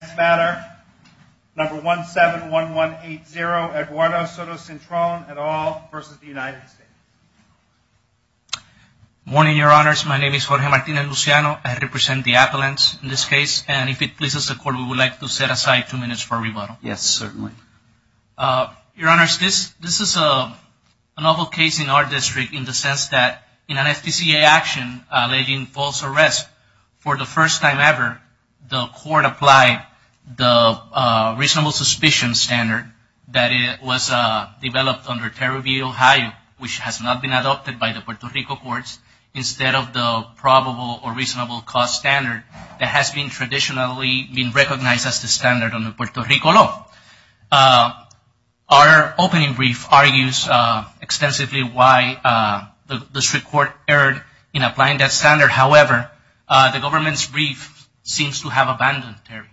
This matter, number 171180, Eduardo Soto-Cintron, et al. v. United States Good morning, your honors. My name is Jorge Martinez Luciano. I represent the appellants in this case. And if it pleases the court, we would like to set aside two minutes for rebuttal. Yes, certainly. Your honors, this is a novel case in our district in the sense that in an FDCA action alleging false arrest for the first time ever, the court applied the reasonable suspicion standard that was developed under Tariff v. Ohio, which has not been adopted by the Puerto Rico courts, instead of the probable or reasonable cost standard that has been traditionally been recognized as the standard under Puerto Rico law. Our opening brief argues extensively why the district court erred in applying that standard. However, the government's brief seems to have abandoned Tariff.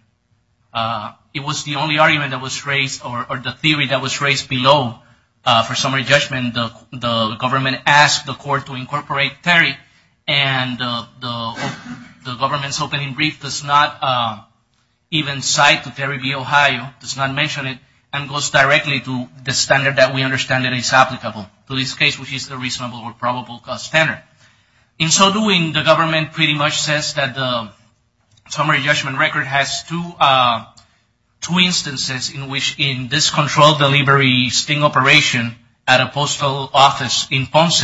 It was the only argument that was raised or the theory that was raised below for summary judgment. The government asked the court to incorporate Tariff, and the government's opening brief does not even cite Tariff v. Ohio. It does not mention it and goes directly to the standard that we understand is applicable to this case, which is the reasonable or probable cost standard. In so doing, the government pretty much says that the summary judgment record has two instances in which in this controlled delivery sting operation at a postal office in Ponce,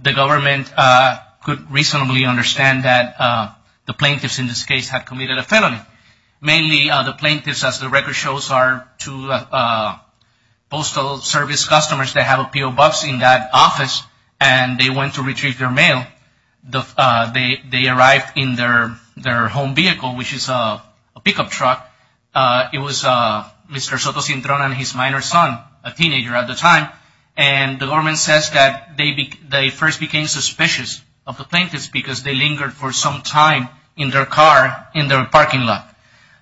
the government could reasonably understand that the plaintiffs in this case had committed a felony. Mainly, the plaintiffs, as the record shows, are two postal service customers that have PO Buffs in that office, and they went to retrieve their mail. They arrived in their home vehicle, which is a pickup truck. It was Mr. Sotocintron and his minor son, a teenager at the time, and the government says that they first became suspicious of the plaintiffs because they lingered for some time in their car in their parking lot.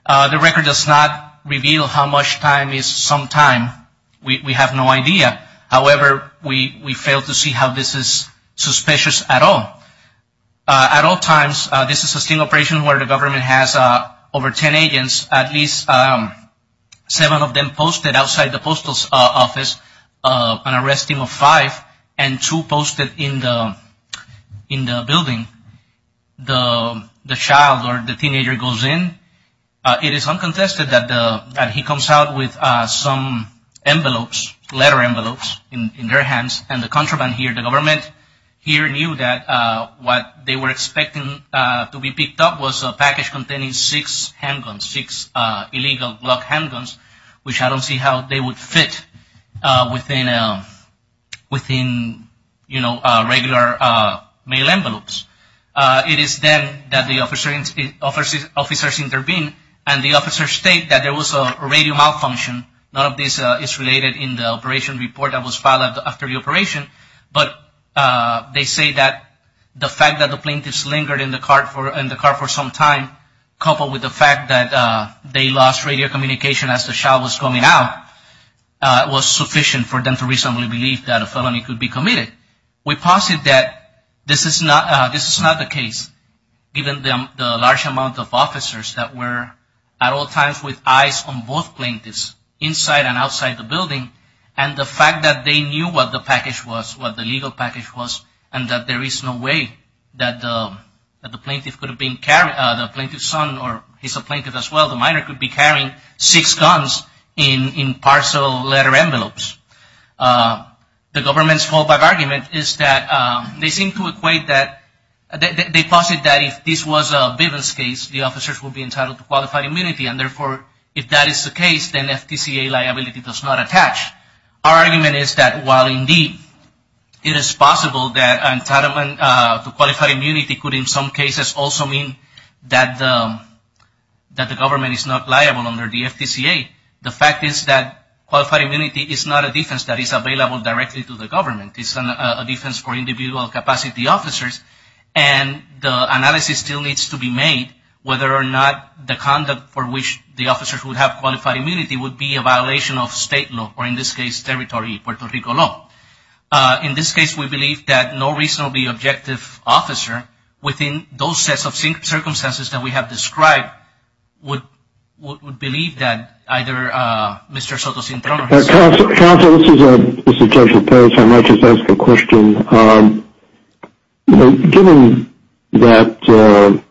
The record does not reveal how much time is some time. We have no idea. However, we fail to see how this is suspicious at all. At all times, this is a sting operation where the government has over ten agents, at least seven of them posted outside the postal office, an arrest team of five, and two posted in the building. The child or the teenager goes in. It is uncontested that he comes out with some envelopes, letter envelopes in their hands, and the contraband here, the government here knew that what they were expecting to be picked up was a package containing six handguns, six illegal Glock handguns, which I don't see how they would fit within regular mail envelopes. It is then that the officers intervene, and the officers state that there was a radio malfunction. None of this is related in the operation report that was filed after the operation, but they say that the fact that the plaintiffs lingered in the car for some time, coupled with the fact that they lost radio communication as the child was coming out, was sufficient for them to reasonably believe that a felony could be committed. We posit that this is not the case, given the large amount of officers that were at all times with eyes on both plaintiffs, inside and outside the building, and the fact that they knew what the package was, what the legal package was, and that there is no way that the plaintiff could have been carried, the plaintiff's son or his plaintiff as well, the minor, could be carrying six guns in parcel letter envelopes. The government's fallback argument is that they seem to equate that, they posit that if this was a Bivens case, the officers would be entitled to qualified immunity, and therefore if that is the case, then FTCA liability does not attach. Our argument is that while indeed it is possible that entitlement to qualified immunity could in some cases also mean that the government is not liable under the FTCA, the fact is that qualified immunity is not a defense that is available directly to the government. It's a defense for individual capacity officers, and the analysis still needs to be made whether or not the conduct for which the officers would have qualified immunity would be a violation of state law, or in this case, territory, Puerto Rico law. In this case, we believe that no reasonably objective officer within those sets of circumstances that we have described would believe that either Mr. Soto-Cintron or his son. Counsel, this is Judge Lopez. I might just ask a question. Given that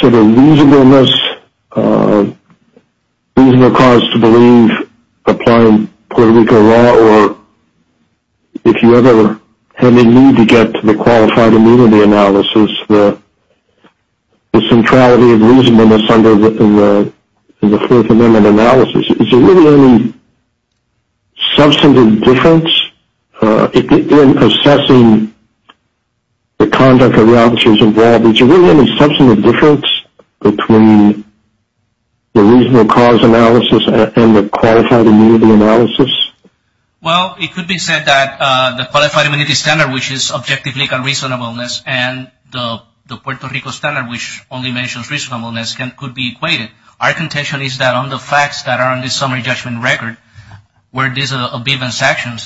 sort of reasonableness, reasonable cause to believe applying Puerto Rico law, or if you ever have a need to get to the qualified immunity analysis, the centrality of reasonableness in the Fourth Amendment analysis, is there really any substantive difference in assessing the conduct of the officers involved? Is there really any substantive difference between the reasonable cause analysis and the qualified immunity analysis? Well, it could be said that the qualified immunity standard, which is objective legal reasonableness, and the Puerto Rico standard, which only mentions reasonableness, could be equated. Our contention is that on the facts that are on this summary judgment record, where this is a bivens action,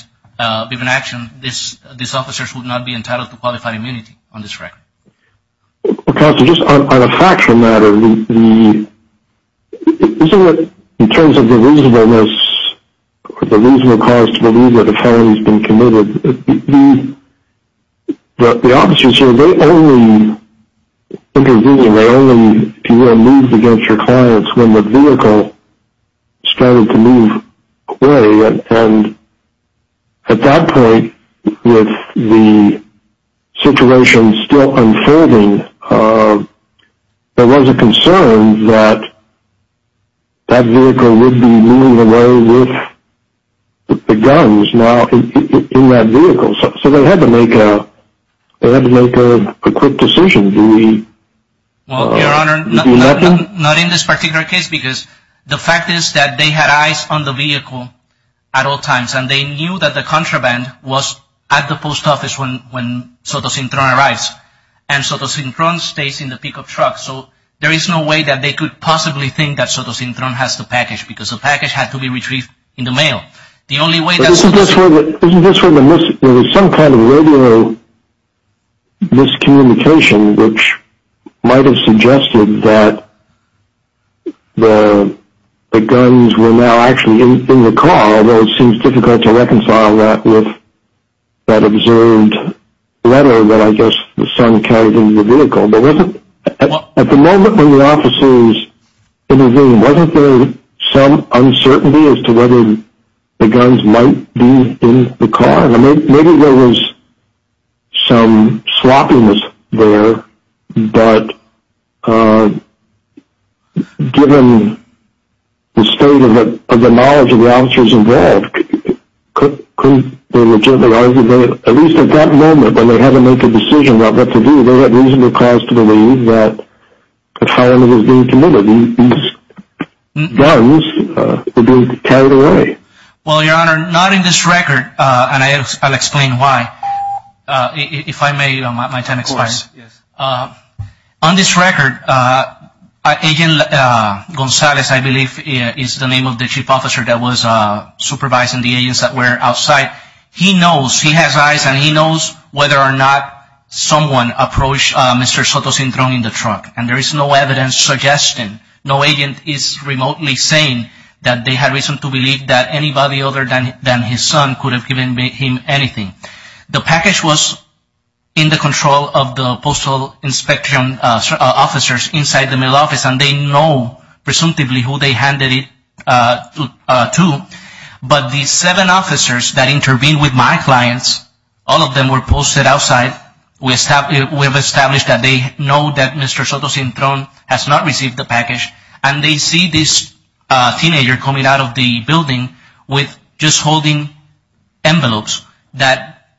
these officers would not be entitled to qualified immunity on this record. Counsel, just on a factual matter, in terms of the reasonableness, the reasonable cause to believe that a felony has been committed, the officers here, they only intervene, they only, if you will, move against your clients when the vehicle started to move away. And at that point, with the situation still unfolding, there was a concern that that vehicle would be moving away with the guns. So they had to make a quick decision. Well, Your Honor, not in this particular case, because the fact is that they had eyes on the vehicle at all times, and they knew that the contraband was at the post office when Sotosintron arrives. And Sotosintron stays in the pickup truck, so there is no way that they could possibly think that Sotosintron has the package, because the package had to be retrieved in the mail. Isn't this where there was some kind of radio miscommunication, which might have suggested that the guns were now actually in the car, although it seems difficult to reconcile that with that observed letter that I guess the son carried into the vehicle. At the moment when the officers intervened, wasn't there some uncertainty as to whether the guns might be in the car? Maybe there was some sloppiness there, but given the state of the knowledge of the officers involved, couldn't they legitimately argue that at least at that moment when they had to make a decision about what to do, they had reasonable cause to believe that a firearm was being committed? These guns were being carried away. Well, Your Honor, not in this record, and I'll explain why. If I may, my time expires. Of course, yes. On this record, Agent Gonzalez, I believe is the name of the chief officer that was supervising the agents that were outside. He knows, he has eyes and he knows whether or not someone approached Mr. Sotosintron in the truck, and there is no evidence suggesting, no agent is remotely saying that they had reason to believe that anybody other than his son could have given him anything. The package was in the control of the postal inspection officers inside the mail office, and they know presumptively who they handed it to, but the seven officers that intervened with my clients, all of them were posted outside. We have established that they know that Mr. Sotosintron has not received the package, and they see this teenager coming out of the building with just holding envelopes,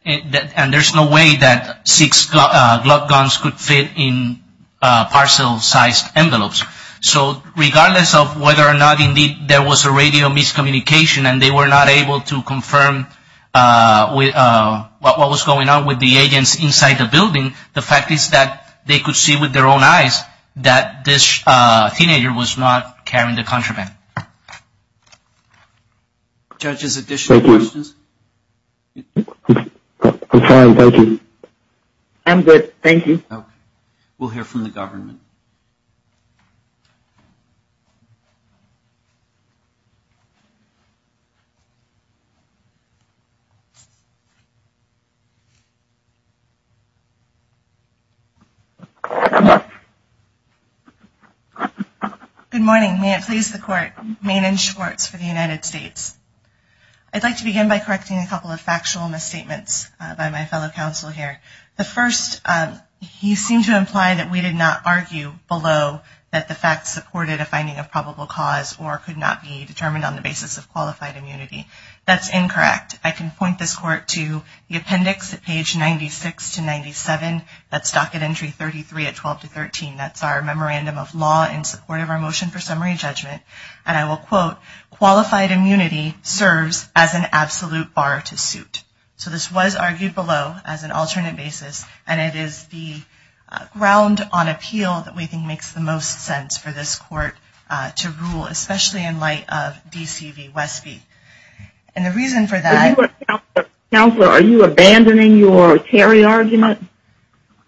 and there's no way that six Glock guns could fit in parcel-sized envelopes. So regardless of whether or not indeed there was a radio miscommunication, and they were not able to confirm what was going on with the agents inside the building, the fact is that they could see with their own eyes that this teenager was not carrying the contraband. Judges, additional questions? Thank you. I'm sorry, thank you. I'm good, thank you. Okay. We'll hear from the government. Good morning. May it please the Court. Maiden Schwartz for the United States. I'd like to begin by correcting a couple of factual misstatements by my fellow counsel here. The first, you seem to imply that we did not argue below that the facts supported a finding of probable cause or could not be determined on the basis of qualified immunity. That's incorrect. I can point this Court to the appendix at page 96 to 97. That's docket entry 33 at 12 to 13. That's our memorandum of law in support of our motion for summary judgment. And I will quote, qualified immunity serves as an absolute bar to suit. So this was argued below as an alternate basis, and it is the ground on appeal that we think makes the most sense for this Court to rule, especially in light of D.C. v. Westby. And the reason for that. Counselor, are you abandoning your Terry argument?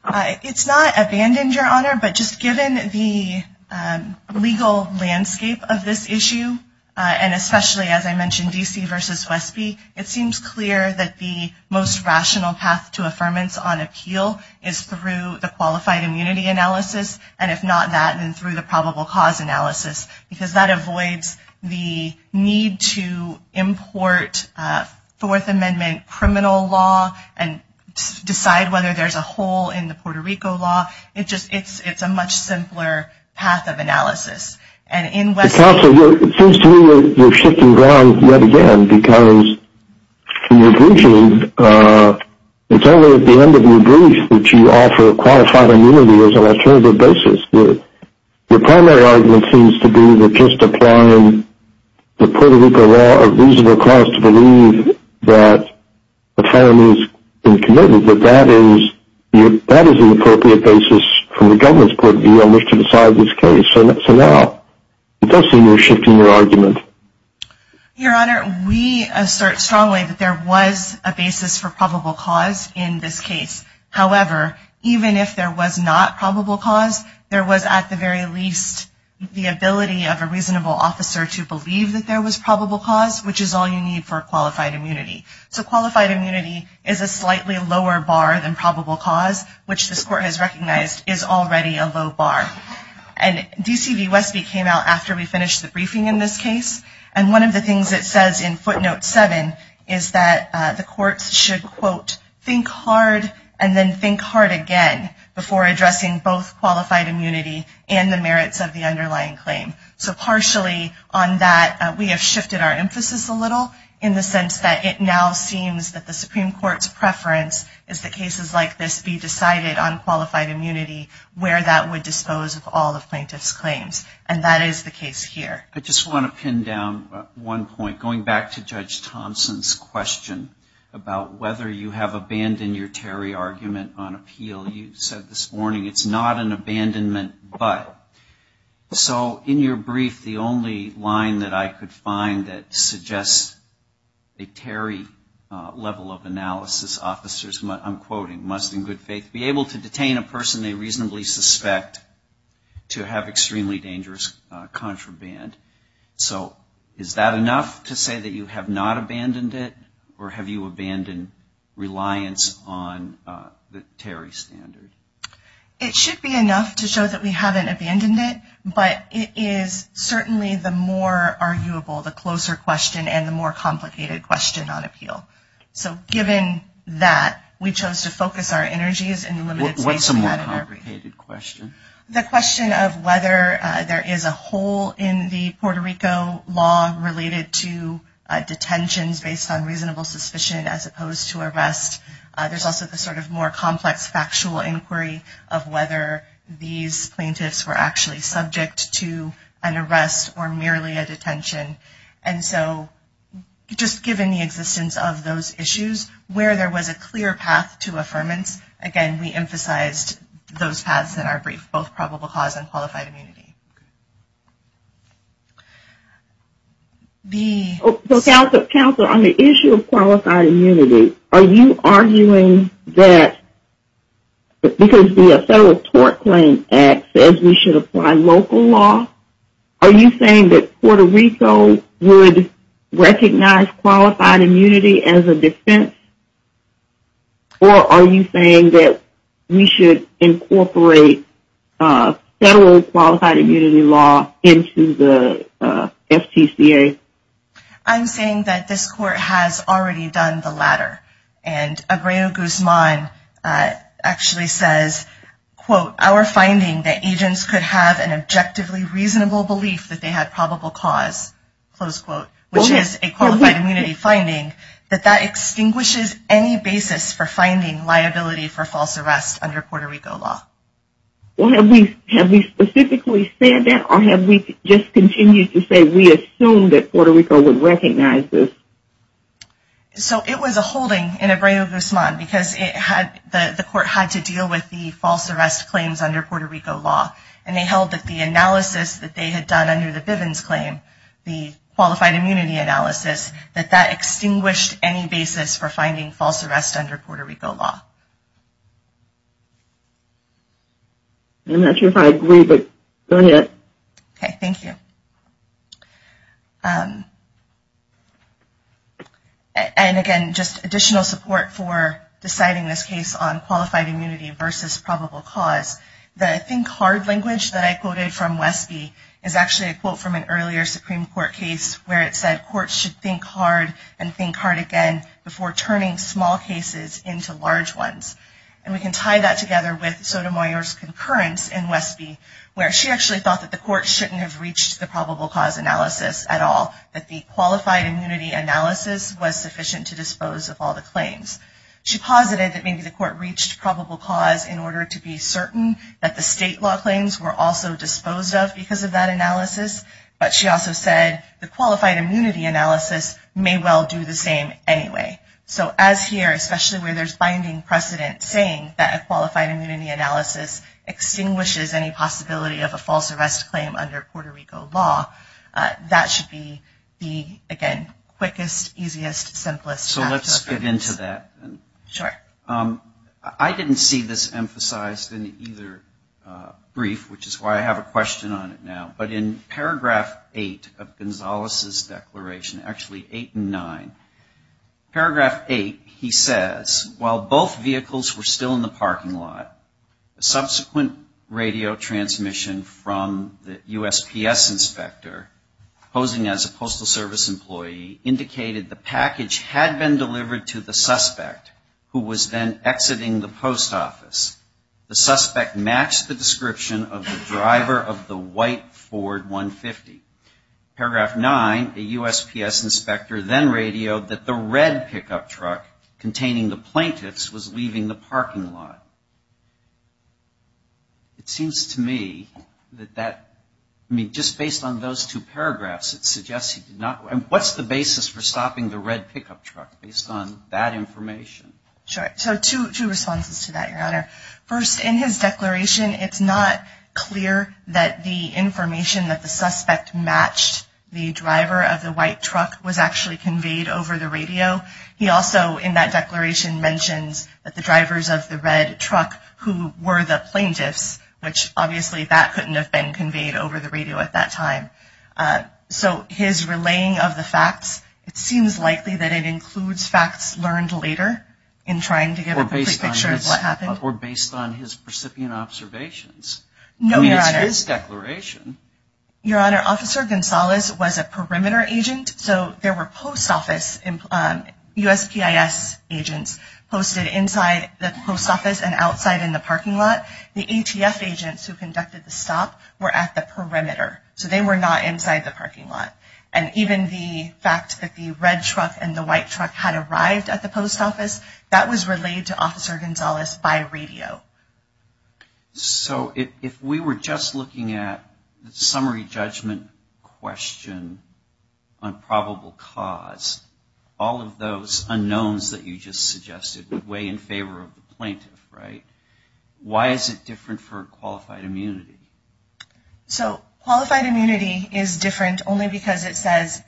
It's not abandoned, Your Honor, but just given the legal landscape of this issue, and especially, as I mentioned, D.C. v. Westby, it seems clear that the most rational path to affirmance on appeal is through the qualified immunity analysis, and if not that, then through the probable cause analysis, because that avoids the need to import Fourth Amendment criminal law and decide whether there's a hole in the Puerto Rico law. It's a much simpler path of analysis. Counselor, it seems to me you're shifting ground yet again, because when you're briefing, it's only at the end of your brief that you offer qualified immunity as an alternative basis. Your primary argument seems to be that just applying the Puerto Rico law, a reasonable cause to believe that the family has been committed, that that is an appropriate basis from the government's point of view on which to decide this case. So now it does seem you're shifting your argument. Your Honor, we assert strongly that there was a basis for probable cause in this case. However, even if there was not probable cause, there was at the very least the ability of a reasonable officer to believe that there was probable cause, which is all you need for qualified immunity. So qualified immunity is a slightly lower bar than probable cause, which this Court has recognized is already a low bar. And DC v. Westby came out after we finished the briefing in this case. And one of the things it says in footnote 7 is that the courts should, quote, think hard and then think hard again before addressing both qualified immunity and the merits of the underlying claim. So partially on that, we have shifted our emphasis a little in the sense that it now seems that the Supreme Court's preference is that cases like this be decided on qualified immunity where that would dispose of all the plaintiff's claims. And that is the case here. I just want to pin down one point. Going back to Judge Thompson's question about whether you have abandoned your Terry argument on appeal, you said this morning it's not an abandonment but. So in your brief, the only line that I could find that suggests a Terry level of analysis, officers, I'm quoting, must in good faith be able to detain a person they reasonably suspect to have extremely dangerous contraband. So is that enough to say that you have not abandoned it or have you abandoned reliance on the Terry standard? It should be enough to show that we haven't abandoned it, but it is certainly the more arguable, the closer question and the more complicated question on appeal. So given that, we chose to focus our energies in the limited space. What's the more complicated question? The question of whether there is a hole in the Puerto Rico law related to detentions based on reasonable suspicion as opposed to arrest. There's also the sort of more complex factual inquiry of whether these plaintiffs were actually subject to an arrest or merely a detention. And so just given the existence of those issues, where there was a clear path to affirmance, again, we emphasized those paths in our brief, both probable cause and qualified immunity. Counselor, on the issue of qualified immunity, are you arguing that because the Federal Tort Claim Act says we should apply local law, are you saying that Puerto Rico would recognize qualified immunity as a defense or are you saying that we should incorporate federal qualified immunity law into the FTCA? I'm saying that this court has already done the latter. And Abreu Guzman actually says, quote, our finding that agents could have an objectively reasonable belief that they had probable cause, close quote, which is a qualified immunity finding, that that extinguishes any basis for finding liability for false arrest under Puerto Rico law. Well, have we specifically said that or have we just continued to say we assume that Puerto Rico would recognize this? So it was a holding in Abreu Guzman because the court had to deal with the false arrest claims under Puerto Rico law. And they held that the analysis that they had done under the Bivens claim, the qualified immunity analysis, that that extinguished any basis for finding false arrest under Puerto Rico law. I'm not sure if I agree, but go ahead. Okay, thank you. And again, just additional support for deciding this case on qualified immunity versus probable cause. The think hard language that I quoted from Westby is actually a quote from an earlier Supreme Court case where it said, courts should think hard and think hard again before turning small cases into large ones. And we can tie that together with Sotomayor's concurrence in Westby, where she actually thought that the court shouldn't have reached the probable cause analysis at all, that the qualified immunity analysis was sufficient to dispose of all the claims. She posited that maybe the court reached probable cause in order to be certain that the state law claims were also disposed of because of that analysis. But she also said the qualified immunity analysis may well do the same anyway. So as here, especially where there's binding precedent saying that a qualified immunity analysis extinguishes any possibility of a false arrest claim under Puerto Rico law, that should be the, again, quickest, easiest, simplest. So let's get into that. Sure. I didn't see this emphasized in either brief, which is why I have a question on it now. But in paragraph 8 of Gonzalez's declaration, actually 8 and 9, paragraph 8, he says, while both vehicles were still in the parking lot, a subsequent radio transmission from the USPS inspector posing as a Postal Service employee indicated the package had been delivered to the suspect who was then exiting the post office. The suspect matched the description of the driver of the white Ford 150. Paragraph 9, a USPS inspector then radioed that the red pickup truck containing the plaintiffs was leaving the parking lot. It seems to me that that, I mean, just based on those two paragraphs, it suggests he did not. And what's the basis for stopping the red pickup truck based on that information? Sure. So two responses to that, Your Honor. First, in his declaration, it's not clear that the information that the suspect matched the driver of the white truck was actually conveyed over the radio. He also, in that declaration, mentions that the drivers of the red truck who were the plaintiffs, which obviously that couldn't have been conveyed over the radio at that time. So his relaying of the facts, it seems likely that it includes facts learned later in trying to get a pre-picture of what happened. Or based on his recipient observations. No, Your Honor. I mean, it's his declaration. Your Honor, Officer Gonzalez was a perimeter agent. So there were post office USPIS agents posted inside the post office and outside in the parking lot. The ATF agents who conducted the stop were at the perimeter. So they were not inside the parking lot. And even the fact that the red truck and the white truck had arrived at the post office, that was relayed to Officer Gonzalez by radio. So if we were just looking at the summary judgment question on probable cause, all of those unknowns that you just suggested would weigh in favor of the plaintiff, right? Why is it different for qualified immunity? So qualified immunity is different only because it says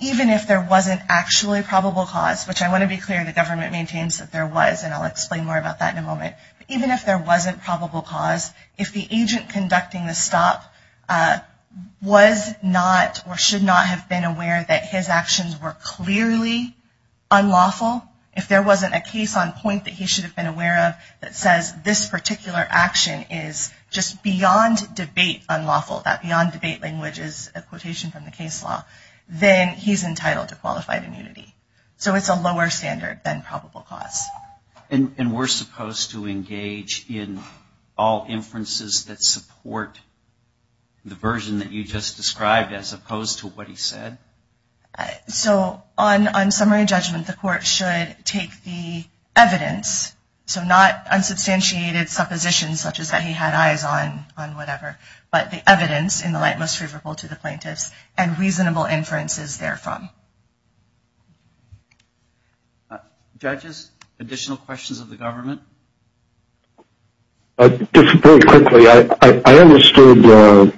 even if there wasn't actually probable cause, which I want to be clear the government maintains that there was, and I'll explain more about that in a moment. Even if there wasn't probable cause, if the agent conducting the stop was not or should not have been aware that his actions were clearly unlawful, if there wasn't a case on point that he should have been aware of that says this particular action is just beyond debate unlawful, that beyond debate language is a quotation from the case law, then he's entitled to qualified immunity. So it's a lower standard than probable cause. And we're supposed to engage in all inferences that support the version that you just described as opposed to what he said? So on summary judgment, the court should take the evidence, so not unsubstantiated suppositions such as that he had eyes on whatever, but the evidence in the light most favorable to the plaintiffs and reasonable inferences therefrom. Judges, additional questions of the government? Just very quickly, I understood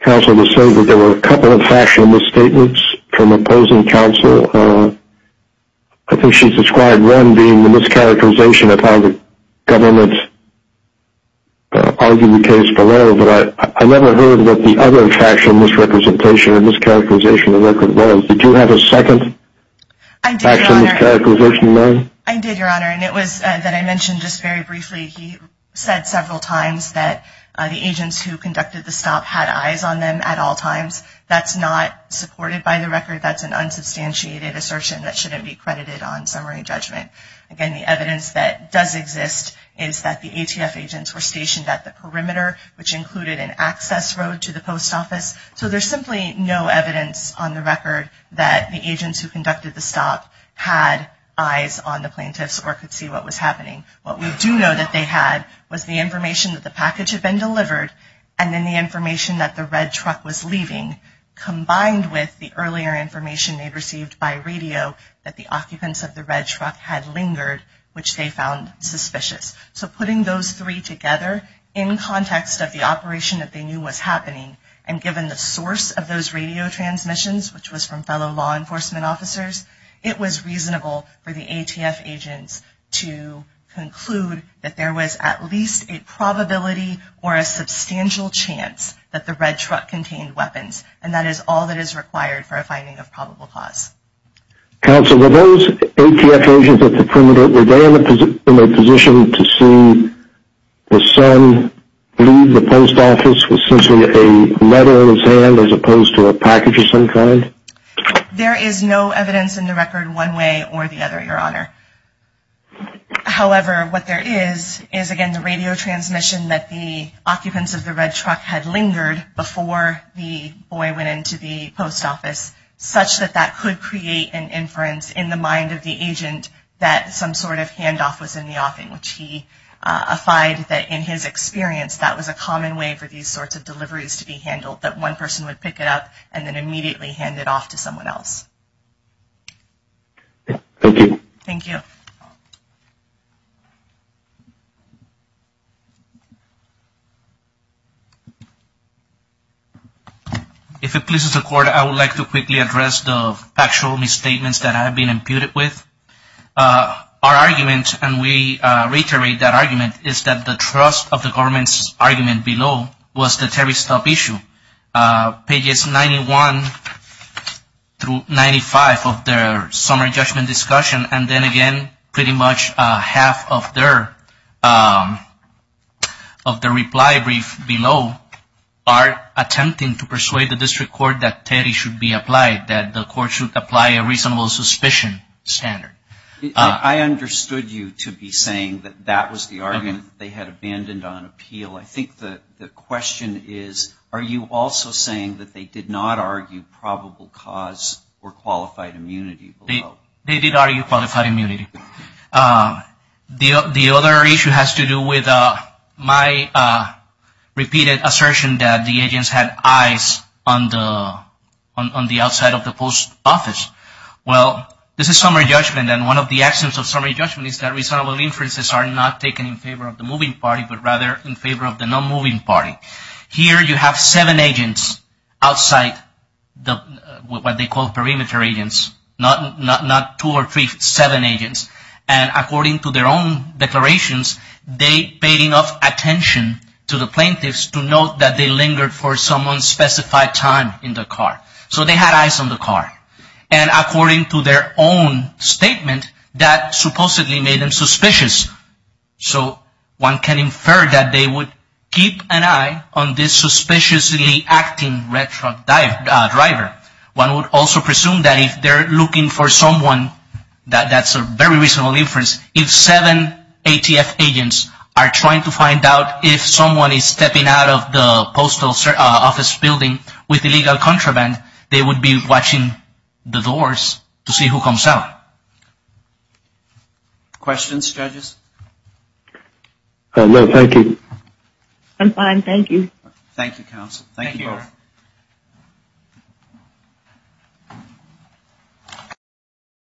counsel to say that there were a couple of factual misstatements from opposing counsel. I think she described one being the mischaracterization of how the government argued the case below, but I never heard what the other factual misrepresentation or mischaracterization of the record was. Did you have a second factual mischaracterization, Mary? I did, Your Honor, and it was that I mentioned just very briefly. He said several times that the agents who conducted the stop had eyes on them at all times. That's not supported by the record. That's an unsubstantiated assertion that shouldn't be credited on summary judgment. Again, the evidence that does exist is that the ATF agents were stationed at the perimeter, which included an access road to the post office. So there's simply no evidence on the record that the agents who conducted the stop had eyes on the plaintiffs or could see what was happening. What we do know that they had was the information that the package had been delivered and then the information that the red truck was leaving, combined with the earlier information they'd received by radio that the occupants of the red truck had lingered, which they found suspicious. So putting those three together in context of the operation that they knew was happening and given the source of those radio transmissions, which was from fellow law enforcement officers, it was reasonable for the ATF agents to conclude that there was at least a probability or a substantial chance that the red truck contained weapons, and that is all that is required for a finding of probable cause. Counsel, were those ATF agents at the perimeter, were they in a position to see the son leave the post office with simply a letter in his hand as opposed to a package of some kind? There is no evidence in the record one way or the other, Your Honor. However, what there is, is again the radio transmission that the occupants of the red truck had lingered before the boy went into the post office, such that that could create an inference in the mind of the agent that some sort of handoff was in the offing, which he affide that in his experience that was a common way for these sorts of deliveries to be handled, that one person would pick it up and then immediately hand it off to someone else. Thank you. If it pleases the Court, I would like to quickly address the factual misstatements that I have been imputed with. Our argument, and we reiterate that argument, is that the trust of the government's argument below was the Terry Stubb issue. Pages 91 through 95 of their summary judgment discussion, and then again, pretty much half of their reply brief below are attempting to persuade the district court that Terry should be applied, that the court should apply a reasonable suspicion standard. I understood you to be saying that that was the argument they had abandoned on appeal. I think the question is, are you also saying that they did not argue probable cause or qualified immunity below? They did argue qualified immunity. The other issue has to do with my repeated assertion that the agents had eyes on the outside of the post office. Well, this is summary judgment, and one of the actions of summary judgment is that reasonable inferences are not taken in favor of the moving party, but rather in favor of the non-moving party. Here you have seven agents outside what they call perimeter agents, not two or three, seven agents. And according to their own declarations, they paid enough attention to the plaintiffs to know that they lingered for someone's specified time in the car. So they had eyes on the car. And according to their own statement, that supposedly made them suspicious. So one can infer that they would keep an eye on this suspiciously acting red truck driver. One would also presume that if they're looking for someone, that's a very reasonable inference, if seven ATF agents are trying to find out if someone is stepping out of the post office building with illegal contraband, they would be watching the doors to see who comes out. Questions, judges? No, thank you. I'm fine, thank you. Thank you, counsel. Thank you both.